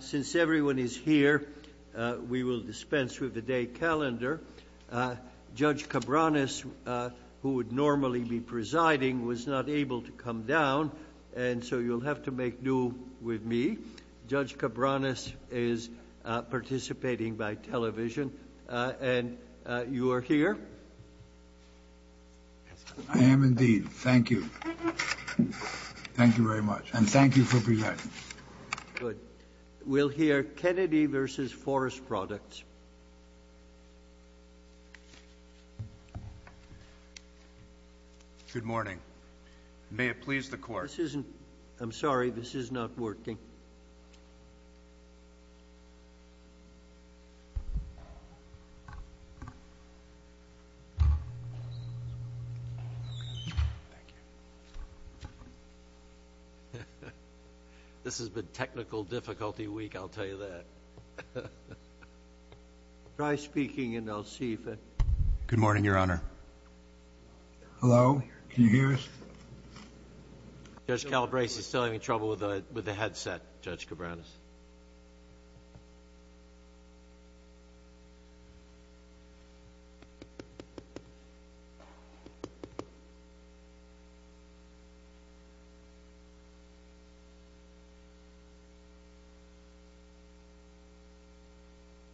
Since everyone is here, we will dispense with the day calendar. Judge Cabranes, who would normally be presiding, was not able to come down, and so you'll have to make do with me. Judge Cabranes is participating by television, and you are here. I am indeed. Thank you. Thank you very much, and thank you for presiding. Good. We'll hear Kennedy v. Forest Products. Good morning. May it please the Court. I'm sorry. This is not working. This has been technical difficulty week, I'll tell you that. Try speaking, and I'll see if it Good morning, Your Honor. Hello. Can you hear us? Judge Calabresi is still having trouble with the headset, Judge Cabranes.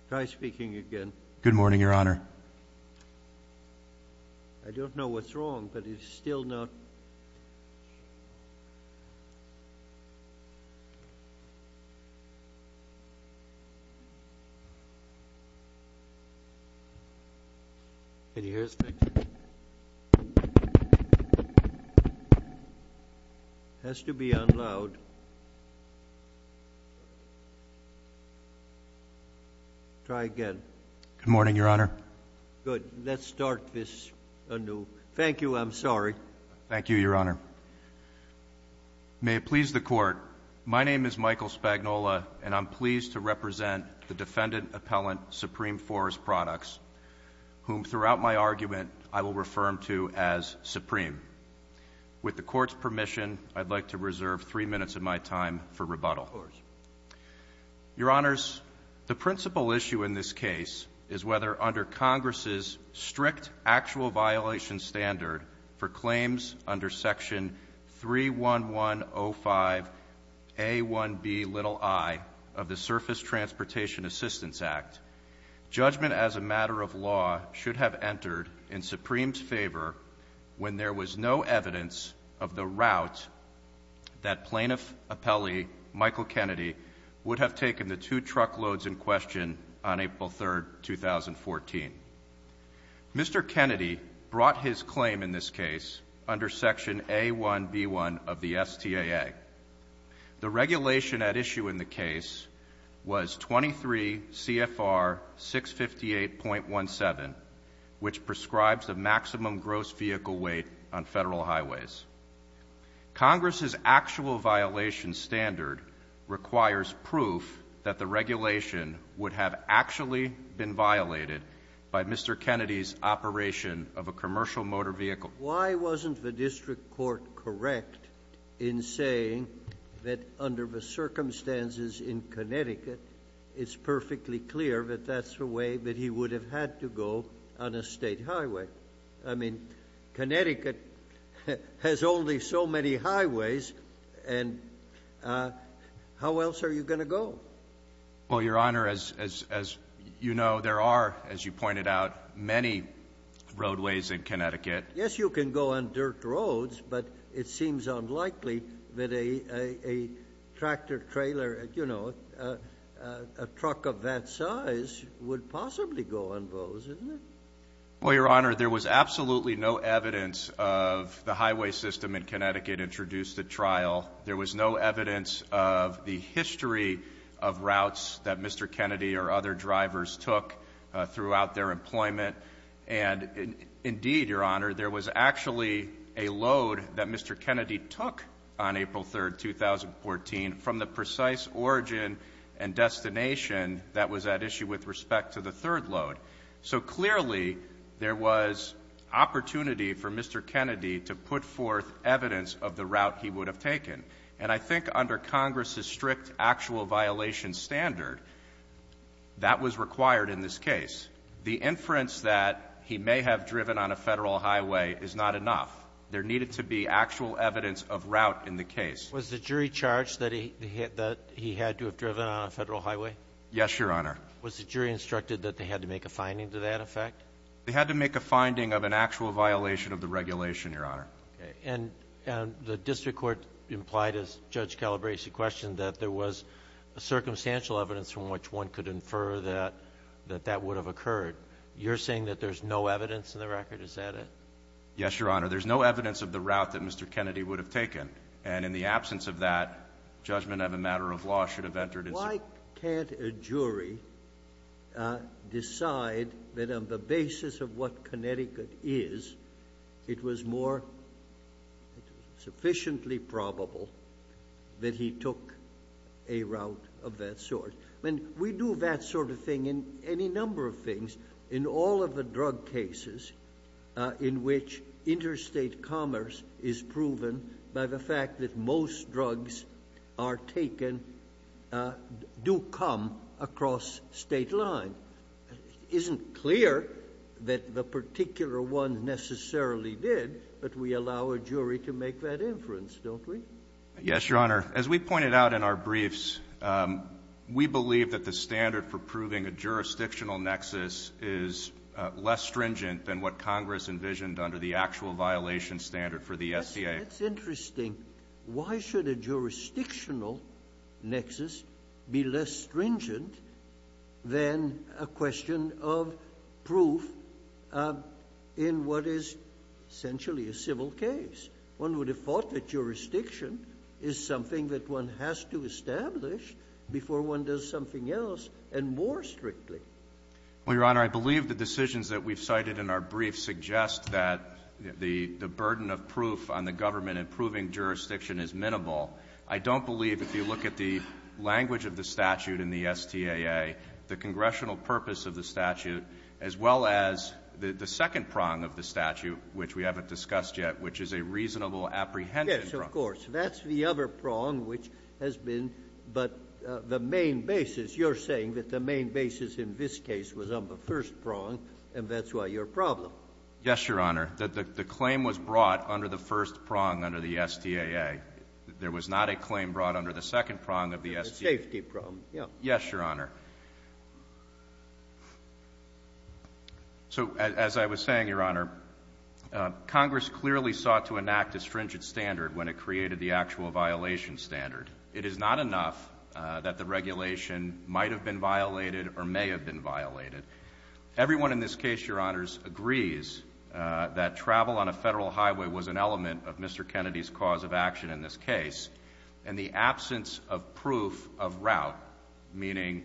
Try speaking again. Good morning, Your Honor. I don't know what's wrong, but it's still not Can you hear us? It has to be on loud. Try again. Good morning, Your Honor. Good. Let's start this anew. Thank you. I'm sorry. Thank you, Your Honor. May it please the Court. My name is Michael Spagnola, and I'm pleased to represent the defendant appellant, Supreme Forest Products, whom, throughout my argument, I will refer to as Supreme. With the Court's permission, I'd like to reserve three minutes of my time for rebuttal. Your Honors, the principal issue in this case is whether, under Congress's strict actual violation standard for claims under Section 31105A1Bi of the Surface Transportation Assistance Act, judgment as a matter of law should have entered in Supreme's favor when there was no evidence of the route that Plaintiff Appellee Michael Kennedy would have taken the two truckloads in question on April 3, 2014. Mr. Kennedy brought his claim in this case under Section A1B1 of the STAA. The regulation at issue in the case was 23 CFR 658.17, which prescribes the maximum gross vehicle weight on Federal highways. Congress's actual violation standard requires proof that the regulation would have actually been violated by Mr. Kennedy's operation of a commercial motor vehicle. Why wasn't the district court correct in saying that, under the circumstances in Connecticut, it's perfectly clear that that's the way that he would have had to go on a State highway? I mean, Connecticut has only so many highways, and how else are you going to go? Well, Your Honor, as you know, there are, as you pointed out, many roadways in Connecticut. Yes, you can go on dirt roads, but it seems unlikely that a tractor trailer, you know, a truck of that size would possibly go on those, isn't it? Well, Your Honor, there was absolutely no evidence of the highway system in Connecticut introduced at trial. There was no evidence of the history of routes that Mr. Kennedy or other drivers took throughout their employment. And indeed, Your Honor, there was actually a load that Mr. Kennedy took on April 3, 2014, from the precise origin and destination that was at issue with respect to the third load. So clearly there was opportunity for Mr. Kennedy to put forth evidence of the route he would have taken. And I think under Congress's strict actual violation standard, that was required in this case. The inference that he may have driven on a Federal highway is not enough. There needed to be actual evidence of route in the case. Was the jury charged that he had to have driven on a Federal highway? Yes, Your Honor. Was the jury instructed that they had to make a finding to that effect? They had to make a finding of an actual violation of the regulation, Your Honor. And the district court implied, as Judge Calabresi questioned, that there was circumstantial evidence from which one could infer that that would have occurred. You're saying that there's no evidence in the record? Is that it? Yes, Your Honor. There's no evidence of the route that Mr. Kennedy would have taken. And in the absence of that, judgment of a matter of law should have entered into it. Why can't a jury decide that on the basis of what Connecticut is, it was more sufficiently probable that he took a route of that sort? I mean, we do that sort of thing in any number of things. In all of the drug cases in which interstate commerce is proven by the fact that most drugs are taken do come across state line. It isn't clear that the particular one necessarily did, but we allow a jury to make that inference, don't we? Yes, Your Honor. As we pointed out in our briefs, we believe that the standard for proving a jurisdictional nexus is less stringent than what Congress envisioned under the actual violation standard for the SBA. That's interesting. Why should a jurisdictional nexus be less stringent than a question of proof in what is essentially a civil case? One would have thought that jurisdiction is something that one has to establish before one does something else, and more strictly. Well, Your Honor, I believe the decisions that we've cited in our briefs suggest that the burden of proof on the government in proving jurisdiction is minimal. I don't believe, if you look at the language of the statute in the STAA, the congressional purpose of the statute, as well as the second prong of the statute, which we haven't discussed yet, which is a reasonable apprehension prong. Yes, of course. That's the other prong, which has been, but the main basis, you're saying that the main basis in this case was on the first prong, and that's why you're a problem. Yes, Your Honor. The claim was brought under the first prong under the STAA. There was not a claim brought under the second prong of the STAA. The safety prong, yeah. Yes, Your Honor. So, as I was saying, Your Honor, Congress clearly sought to enact a stringent standard when it created the actual violation standard. It is not enough that the regulation might have been violated or may have been violated. Everyone in this case, Your Honors, agrees that travel on a federal highway was an element of Mr. Kennedy's cause of action in this case, and the absence of proof of route, meaning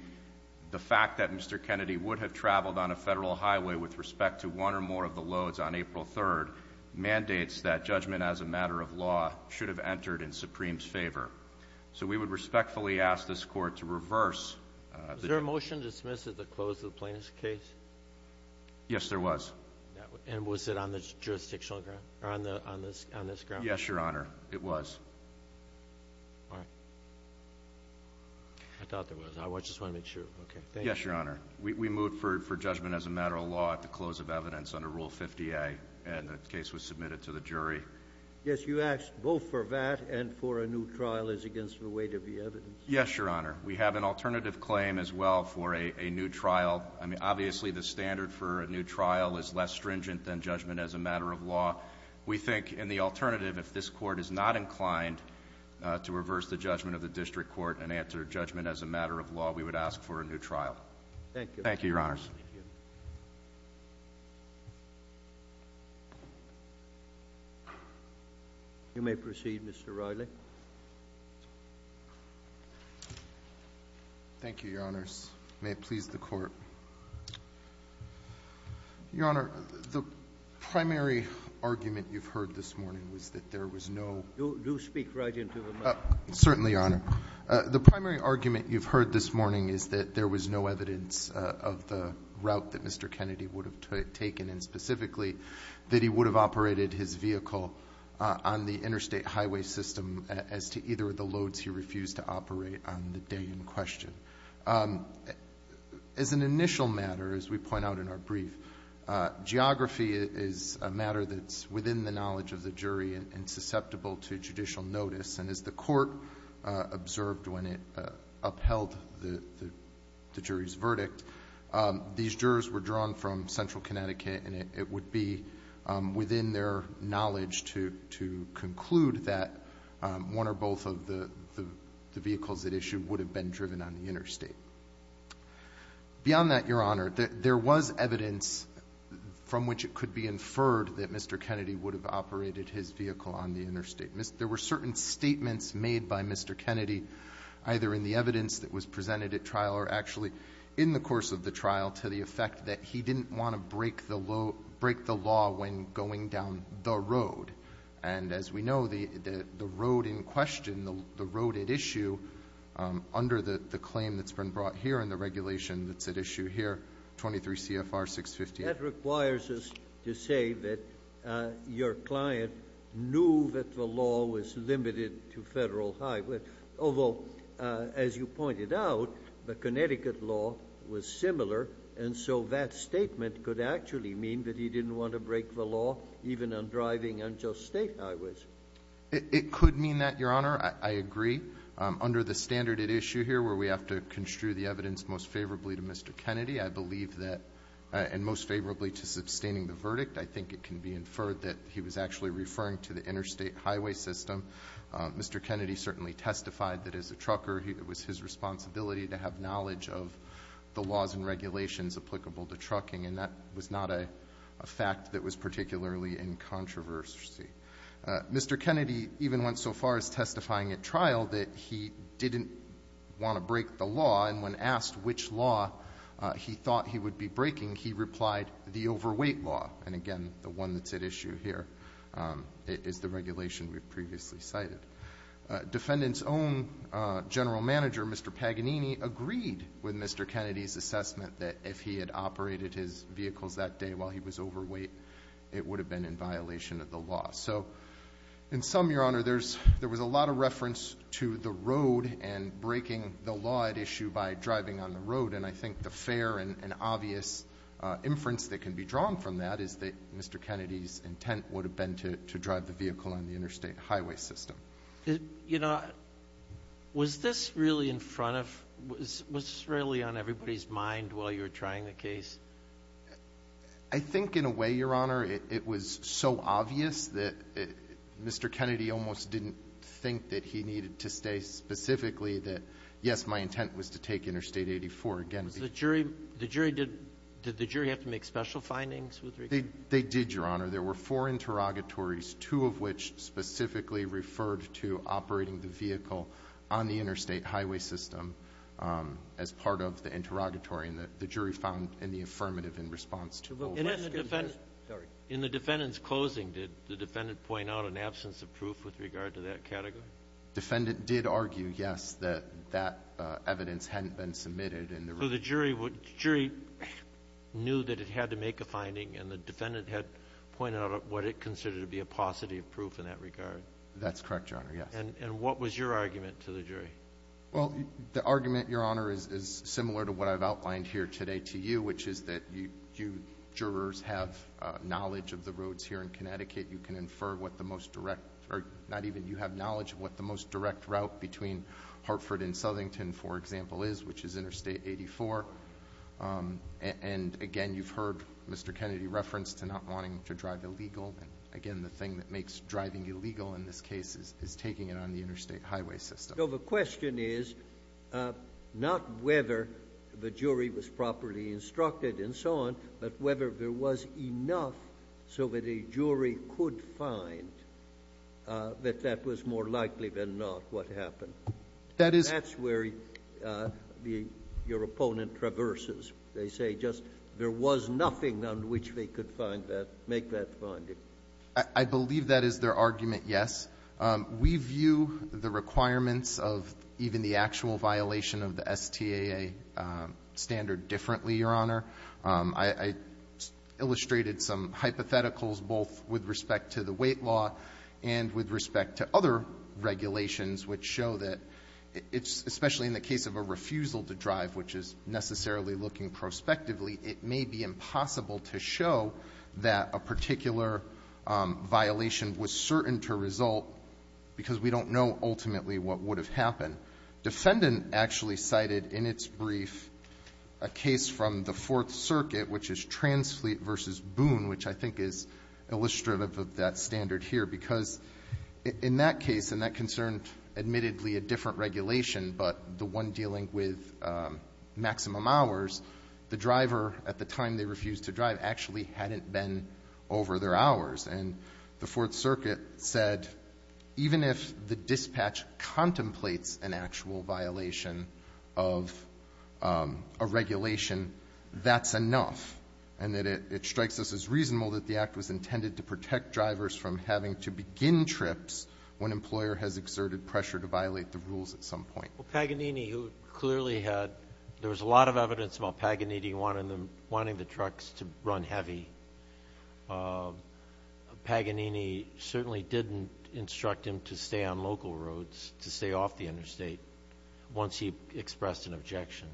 the fact that Mr. Kennedy would have traveled on a federal highway with respect to one or more of the loads on April 3rd, mandates that judgment as a matter of law should have entered in Supreme's favor. So we would respectfully ask this Court to reverse. Was there a motion to dismiss at the close of the plaintiff's case? Yes, there was. And was it on the jurisdictional ground, or on this ground? Yes, Your Honor, it was. All right. I thought there was. I just want to make sure. Okay, thank you. Yes, Your Honor. We moved for judgment as a matter of law at the close of evidence under Rule 50A, and the case was submitted to the jury. Yes, you asked both for that and for a new trial as against the weight of the evidence. Yes, Your Honor. We have an alternative claim as well for a new trial. We think in the alternative, if this Court is not inclined to reverse the judgment of the district court and answer judgment as a matter of law, we would ask for a new trial. Thank you, Your Honors. You may proceed, Mr. Riley. May it please the Court. Your Honor, the primary argument you've heard this morning was that there was no— Do speak right into the microphone. Certainly, Your Honor. The primary argument you've heard this morning is that there was no evidence of the route that Mr. Kennedy would have taken, and specifically that he would have operated his vehicle on the interstate highway system as to either of the loads he refused to operate on the day in question. As an initial matter, as we point out in our brief, geography is a matter that's within the knowledge of the jury and susceptible to judicial notice. And as the Court observed when it upheld the jury's verdict, these jurors were drawn from Central Connecticut, and it would be within their knowledge to conclude that one or both of the vehicles at issue would have been driven on the interstate. Beyond that, Your Honor, there was evidence from which it could be inferred that Mr. Kennedy would have operated his vehicle on the interstate. There were certain statements made by Mr. Kennedy, either in the evidence that was presented at trial or actually in the course of the trial, to the effect that he didn't want to break the law when going down the road. And as we know, the road in question, the road at issue, under the claim that's been brought here and the regulation that's at issue here, 23 CFR 650. That requires us to say that your client knew that the law was limited to Federal Highway, although, as you pointed out, the Connecticut law was similar, and so that statement could actually mean that he didn't want to break the law even on driving on just State highways. It could mean that, Your Honor. I agree. Under the standard at issue here where we have to construe the evidence most favorably to Mr. Kennedy, I believe that, and most favorably to sustaining the verdict, I think it can be inferred that he was actually referring to the interstate highway system. Mr. Kennedy certainly testified that, as a trucker, it was his responsibility to have knowledge of the laws and regulations applicable to trucking, and that was not a fact that was particularly in controversy. Mr. Kennedy even went so far as testifying at trial that he didn't want to break the law, and when asked which law he thought he would be breaking, he replied, the overweight law. And, again, the one that's at issue here is the regulation we've previously cited. Defendant's own general manager, Mr. Paganini, agreed with Mr. Kennedy's assessment that if he had operated his vehicles that day while he was overweight, it would have been in violation of the law. So, in sum, Your Honor, there was a lot of reference to the road and breaking the law at issue by driving on the road, and I think the fair and obvious inference that can be drawn from that is that Mr. Kennedy's intent would have been to drive the vehicle on the interstate highway system. You know, was this really in front of, was this really on everybody's mind while you were trying the case? I think, in a way, Your Honor, it was so obvious that Mr. Kennedy almost didn't think that he needed to say specifically that, yes, my intent was to take Interstate 84 again. Was the jury, the jury did, did the jury have to make special findings with regard to this? They did, Your Honor. There were four interrogatories, two of which specifically referred to operating the vehicle on the interstate highway system as part of the interrogatory, and the jury found in the affirmative in response to overweight. In the defendant's closing, did the defendant point out an absence of proof with regard to that category? The defendant did argue, yes, that that evidence hadn't been submitted. So the jury knew that it had to make a finding, and the defendant had pointed out what it considered to be a paucity of proof in that regard. That's correct, Your Honor, yes. And what was your argument to the jury? Well, the argument, Your Honor, is similar to what I've outlined here today to you, which is that you jurors have knowledge of the roads here in Connecticut. You can infer what the most direct or not even you have knowledge of what the most direct route between Hartford and Southington, for example, is, which is Interstate 84. And, again, you've heard Mr. Kennedy reference to not wanting to drive illegal. Again, the thing that makes driving illegal in this case is taking it on the interstate highway system. So the question is not whether the jury was properly instructed and so on, but whether there was enough so that a jury could find that that was more likely than not what happened. That's where your opponent traverses. They say just there was nothing on which they could find that, make that finding. I believe that is their argument, yes. We view the requirements of even the actual violation of the STAA standard differently, Your Honor. I illustrated some hypotheticals both with respect to the weight law and with respect to other regulations which show that, especially in the case of a refusal to drive, which is necessarily looking prospectively, it may be impossible to show that a particular violation was certain to result because we don't know ultimately what would have happened. The defendant actually cited in its brief a case from the Fourth Circuit, which is Transfleet v. Boone, which I think is illustrative of that standard here. Because in that case, and that concerned admittedly a different regulation, but the one dealing with maximum hours, the driver at the time they refused to drive actually hadn't been over their hours. And the Fourth Circuit said even if the dispatch contemplates an actual violation of a regulation, that's enough and that it strikes us as reasonable that the act was intended to protect drivers from having to begin trips when an employer has exerted pressure to violate the rules at some point. Well, Paganini, who clearly had, there was a lot of evidence about Paganini wanting the trucks to run heavy. Paganini certainly didn't instruct him to stay on local roads, to stay off the interstate once he expressed an objection.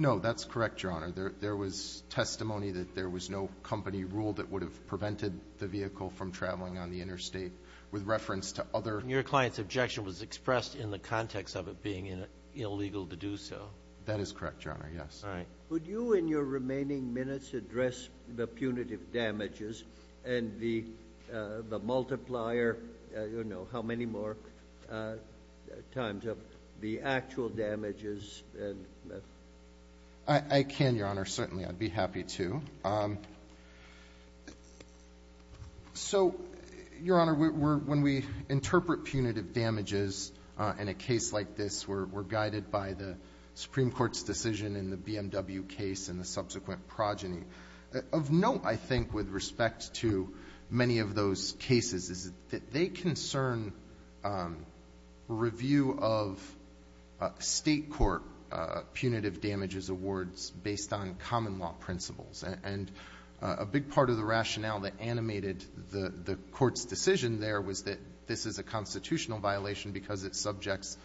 No, that's correct, Your Honor. There was testimony that there was no company rule that would have prevented the vehicle from traveling on the interstate with reference to other. Your client's objection was expressed in the context of it being illegal to do so. That is correct, Your Honor, yes. All right. Would you in your remaining minutes address the punitive damages and the multiplier, you know, how many more times of the actual damages? I can, Your Honor, certainly. I'd be happy to. So, Your Honor, when we interpret punitive damages in a case like this, we're guided by the Supreme Court's decision in the BMW case and the subsequent progeny. Of note, I think, with respect to many of those cases, is that they concern review of State court punitive damages awards based on common law principles. And a big part of the rationale that animated the Court's decision there was that this is a constitutional violation because it subjects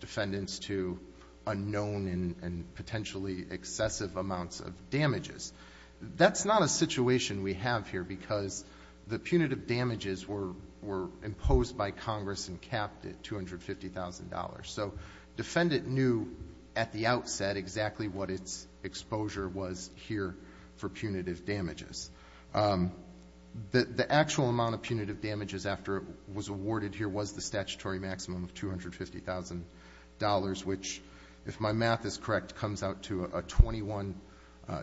defendants to unknown and potentially excessive amounts of damages. That's not a situation we have here because the punitive damages were imposed by Congress and capped at $250,000. So defendant knew at the outset exactly what its exposure was here for punitive damages. The actual amount of punitive damages after it was awarded here was the statutory maximum of $250,000, which, if my math is correct, comes out to a 21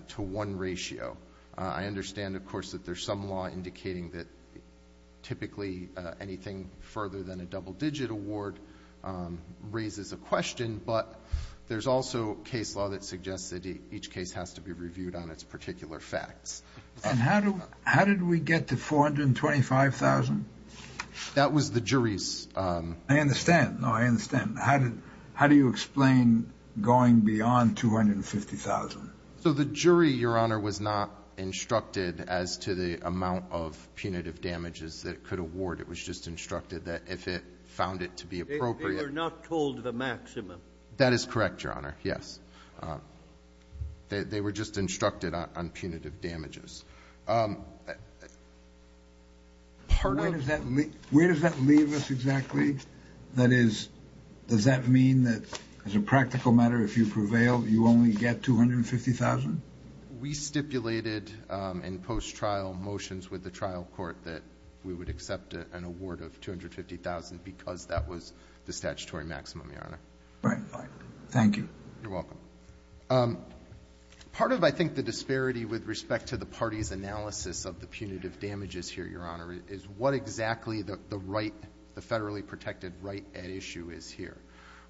to 1 ratio. I understand, of course, that there's some law indicating that typically anything further than a double digit award raises a question, but there's also case law that suggests that each case has to be reviewed on its particular facts. And how do we get to $425,000? That was the jury's. I understand. No, I understand. How do you explain going beyond $250,000? So the jury, Your Honor, was not instructed as to the amount of punitive damages that it could award. It was just instructed that if it found it to be appropriate. They were not told the maximum. That is correct, Your Honor, yes. They were just instructed on punitive damages. Where does that leave us exactly? That is, does that mean that as a practical matter, if you prevail, you only get $250,000? We stipulated in post-trial motions with the trial court that we would accept an award of $250,000 because that was the statutory maximum, Your Honor. Right. Thank you. You're welcome. Part of, I think, the disparity with respect to the party's analysis of the punitive damages here, Your Honor, is what exactly the right, the federally protected right at issue is here.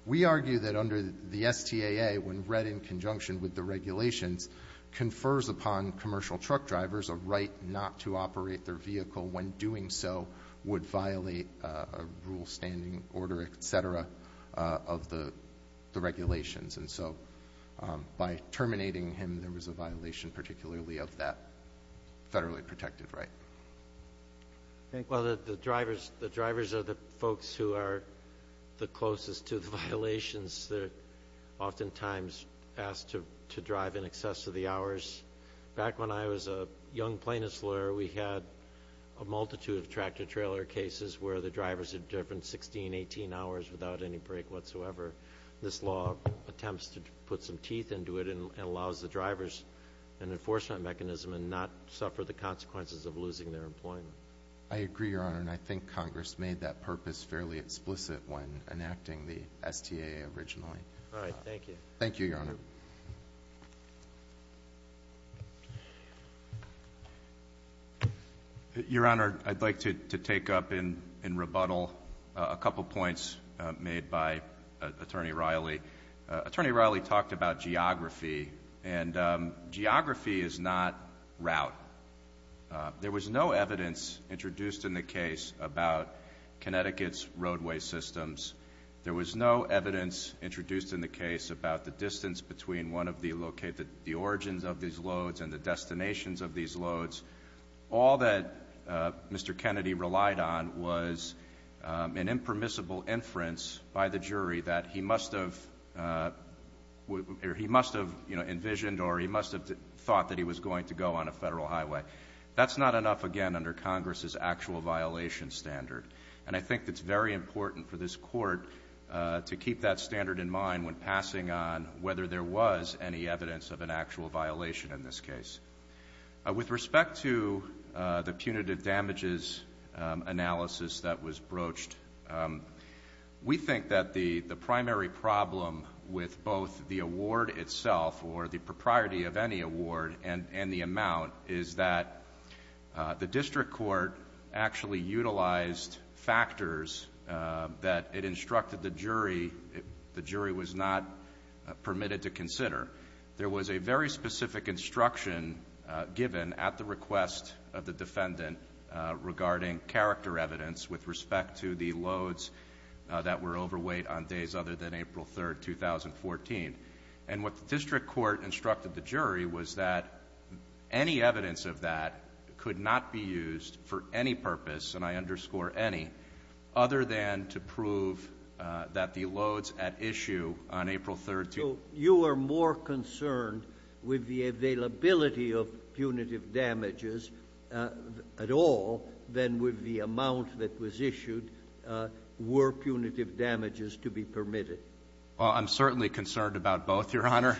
We argue that under the STAA, when read in conjunction with the regulations, confers upon commercial truck drivers a right not to operate their vehicle when doing so would violate a rule standing order, et cetera, of the regulations. By terminating him, there was a violation particularly of that federally protected right. Well, the drivers are the folks who are the closest to the violations. They're oftentimes asked to drive in excess of the hours. Back when I was a young plaintiff's lawyer, we had a multitude of tractor-trailer cases where the drivers had driven 16, 18 hours without any break whatsoever. This law attempts to put some teeth into it and allows the drivers an enforcement mechanism and not suffer the consequences of losing their employment. I agree, Your Honor, and I think Congress made that purpose fairly explicit when enacting the STAA originally. All right. Thank you. Thank you, Your Honor. Thank you. Your Honor, I'd like to take up in rebuttal a couple points made by Attorney Riley. Attorney Riley talked about geography, and geography is not route. There was no evidence introduced in the case about Connecticut's roadway systems. There was no evidence introduced in the case about the distance between the origins of these loads and the destinations of these loads. All that Mr. Kennedy relied on was an impermissible inference by the jury that he must have envisioned or he must have thought that he was going to go on a federal highway. That's not enough, again, under Congress's actual violation standard. And I think it's very important for this Court to keep that standard in mind when passing on whether there was any evidence of an actual violation in this case. With respect to the punitive damages analysis that was broached, we think that the primary problem with both the award itself or the propriety of any award and the district court actually utilized factors that it instructed the jury. The jury was not permitted to consider. There was a very specific instruction given at the request of the defendant regarding character evidence with respect to the loads that were overweight on days other than April 3, 2014. And what the district court instructed the jury was that any evidence of that could not be used for any purpose, and I underscore any, other than to prove that the loads at issue on April 3— So you are more concerned with the availability of punitive damages at all than with the amount that was issued. Were punitive damages to be permitted? Well, I'm certainly concerned about both, Your Honor.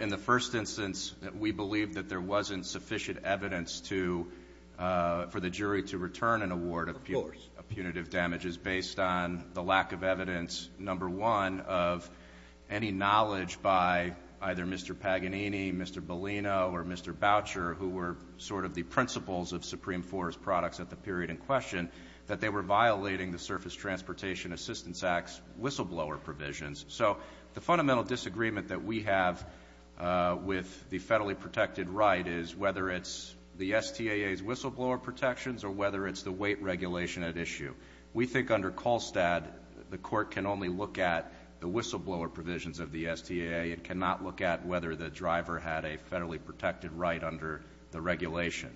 In the first instance, we believe that there wasn't sufficient evidence for the jury to return an award of punitive damages based on the lack of evidence, number one, of any knowledge by either Mr. Paganini, Mr. Bellino, or Mr. Boucher, who were sort of the principles of Supreme Court's products at the period in question, that they were violating the Surface Transportation Assistance Act's whistleblower provisions. So the fundamental disagreement that we have with the federally protected right is whether it's the STAA's whistleblower protections or whether it's the weight regulation at issue. We think under Kolstad, the Court can only look at the whistleblower provisions of the STAA. It cannot look at whether the driver had a federally protected right under the regulation.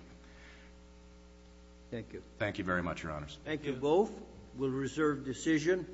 Thank you. Thank you very much, Your Honors. Thank you both. We'll reserve decision.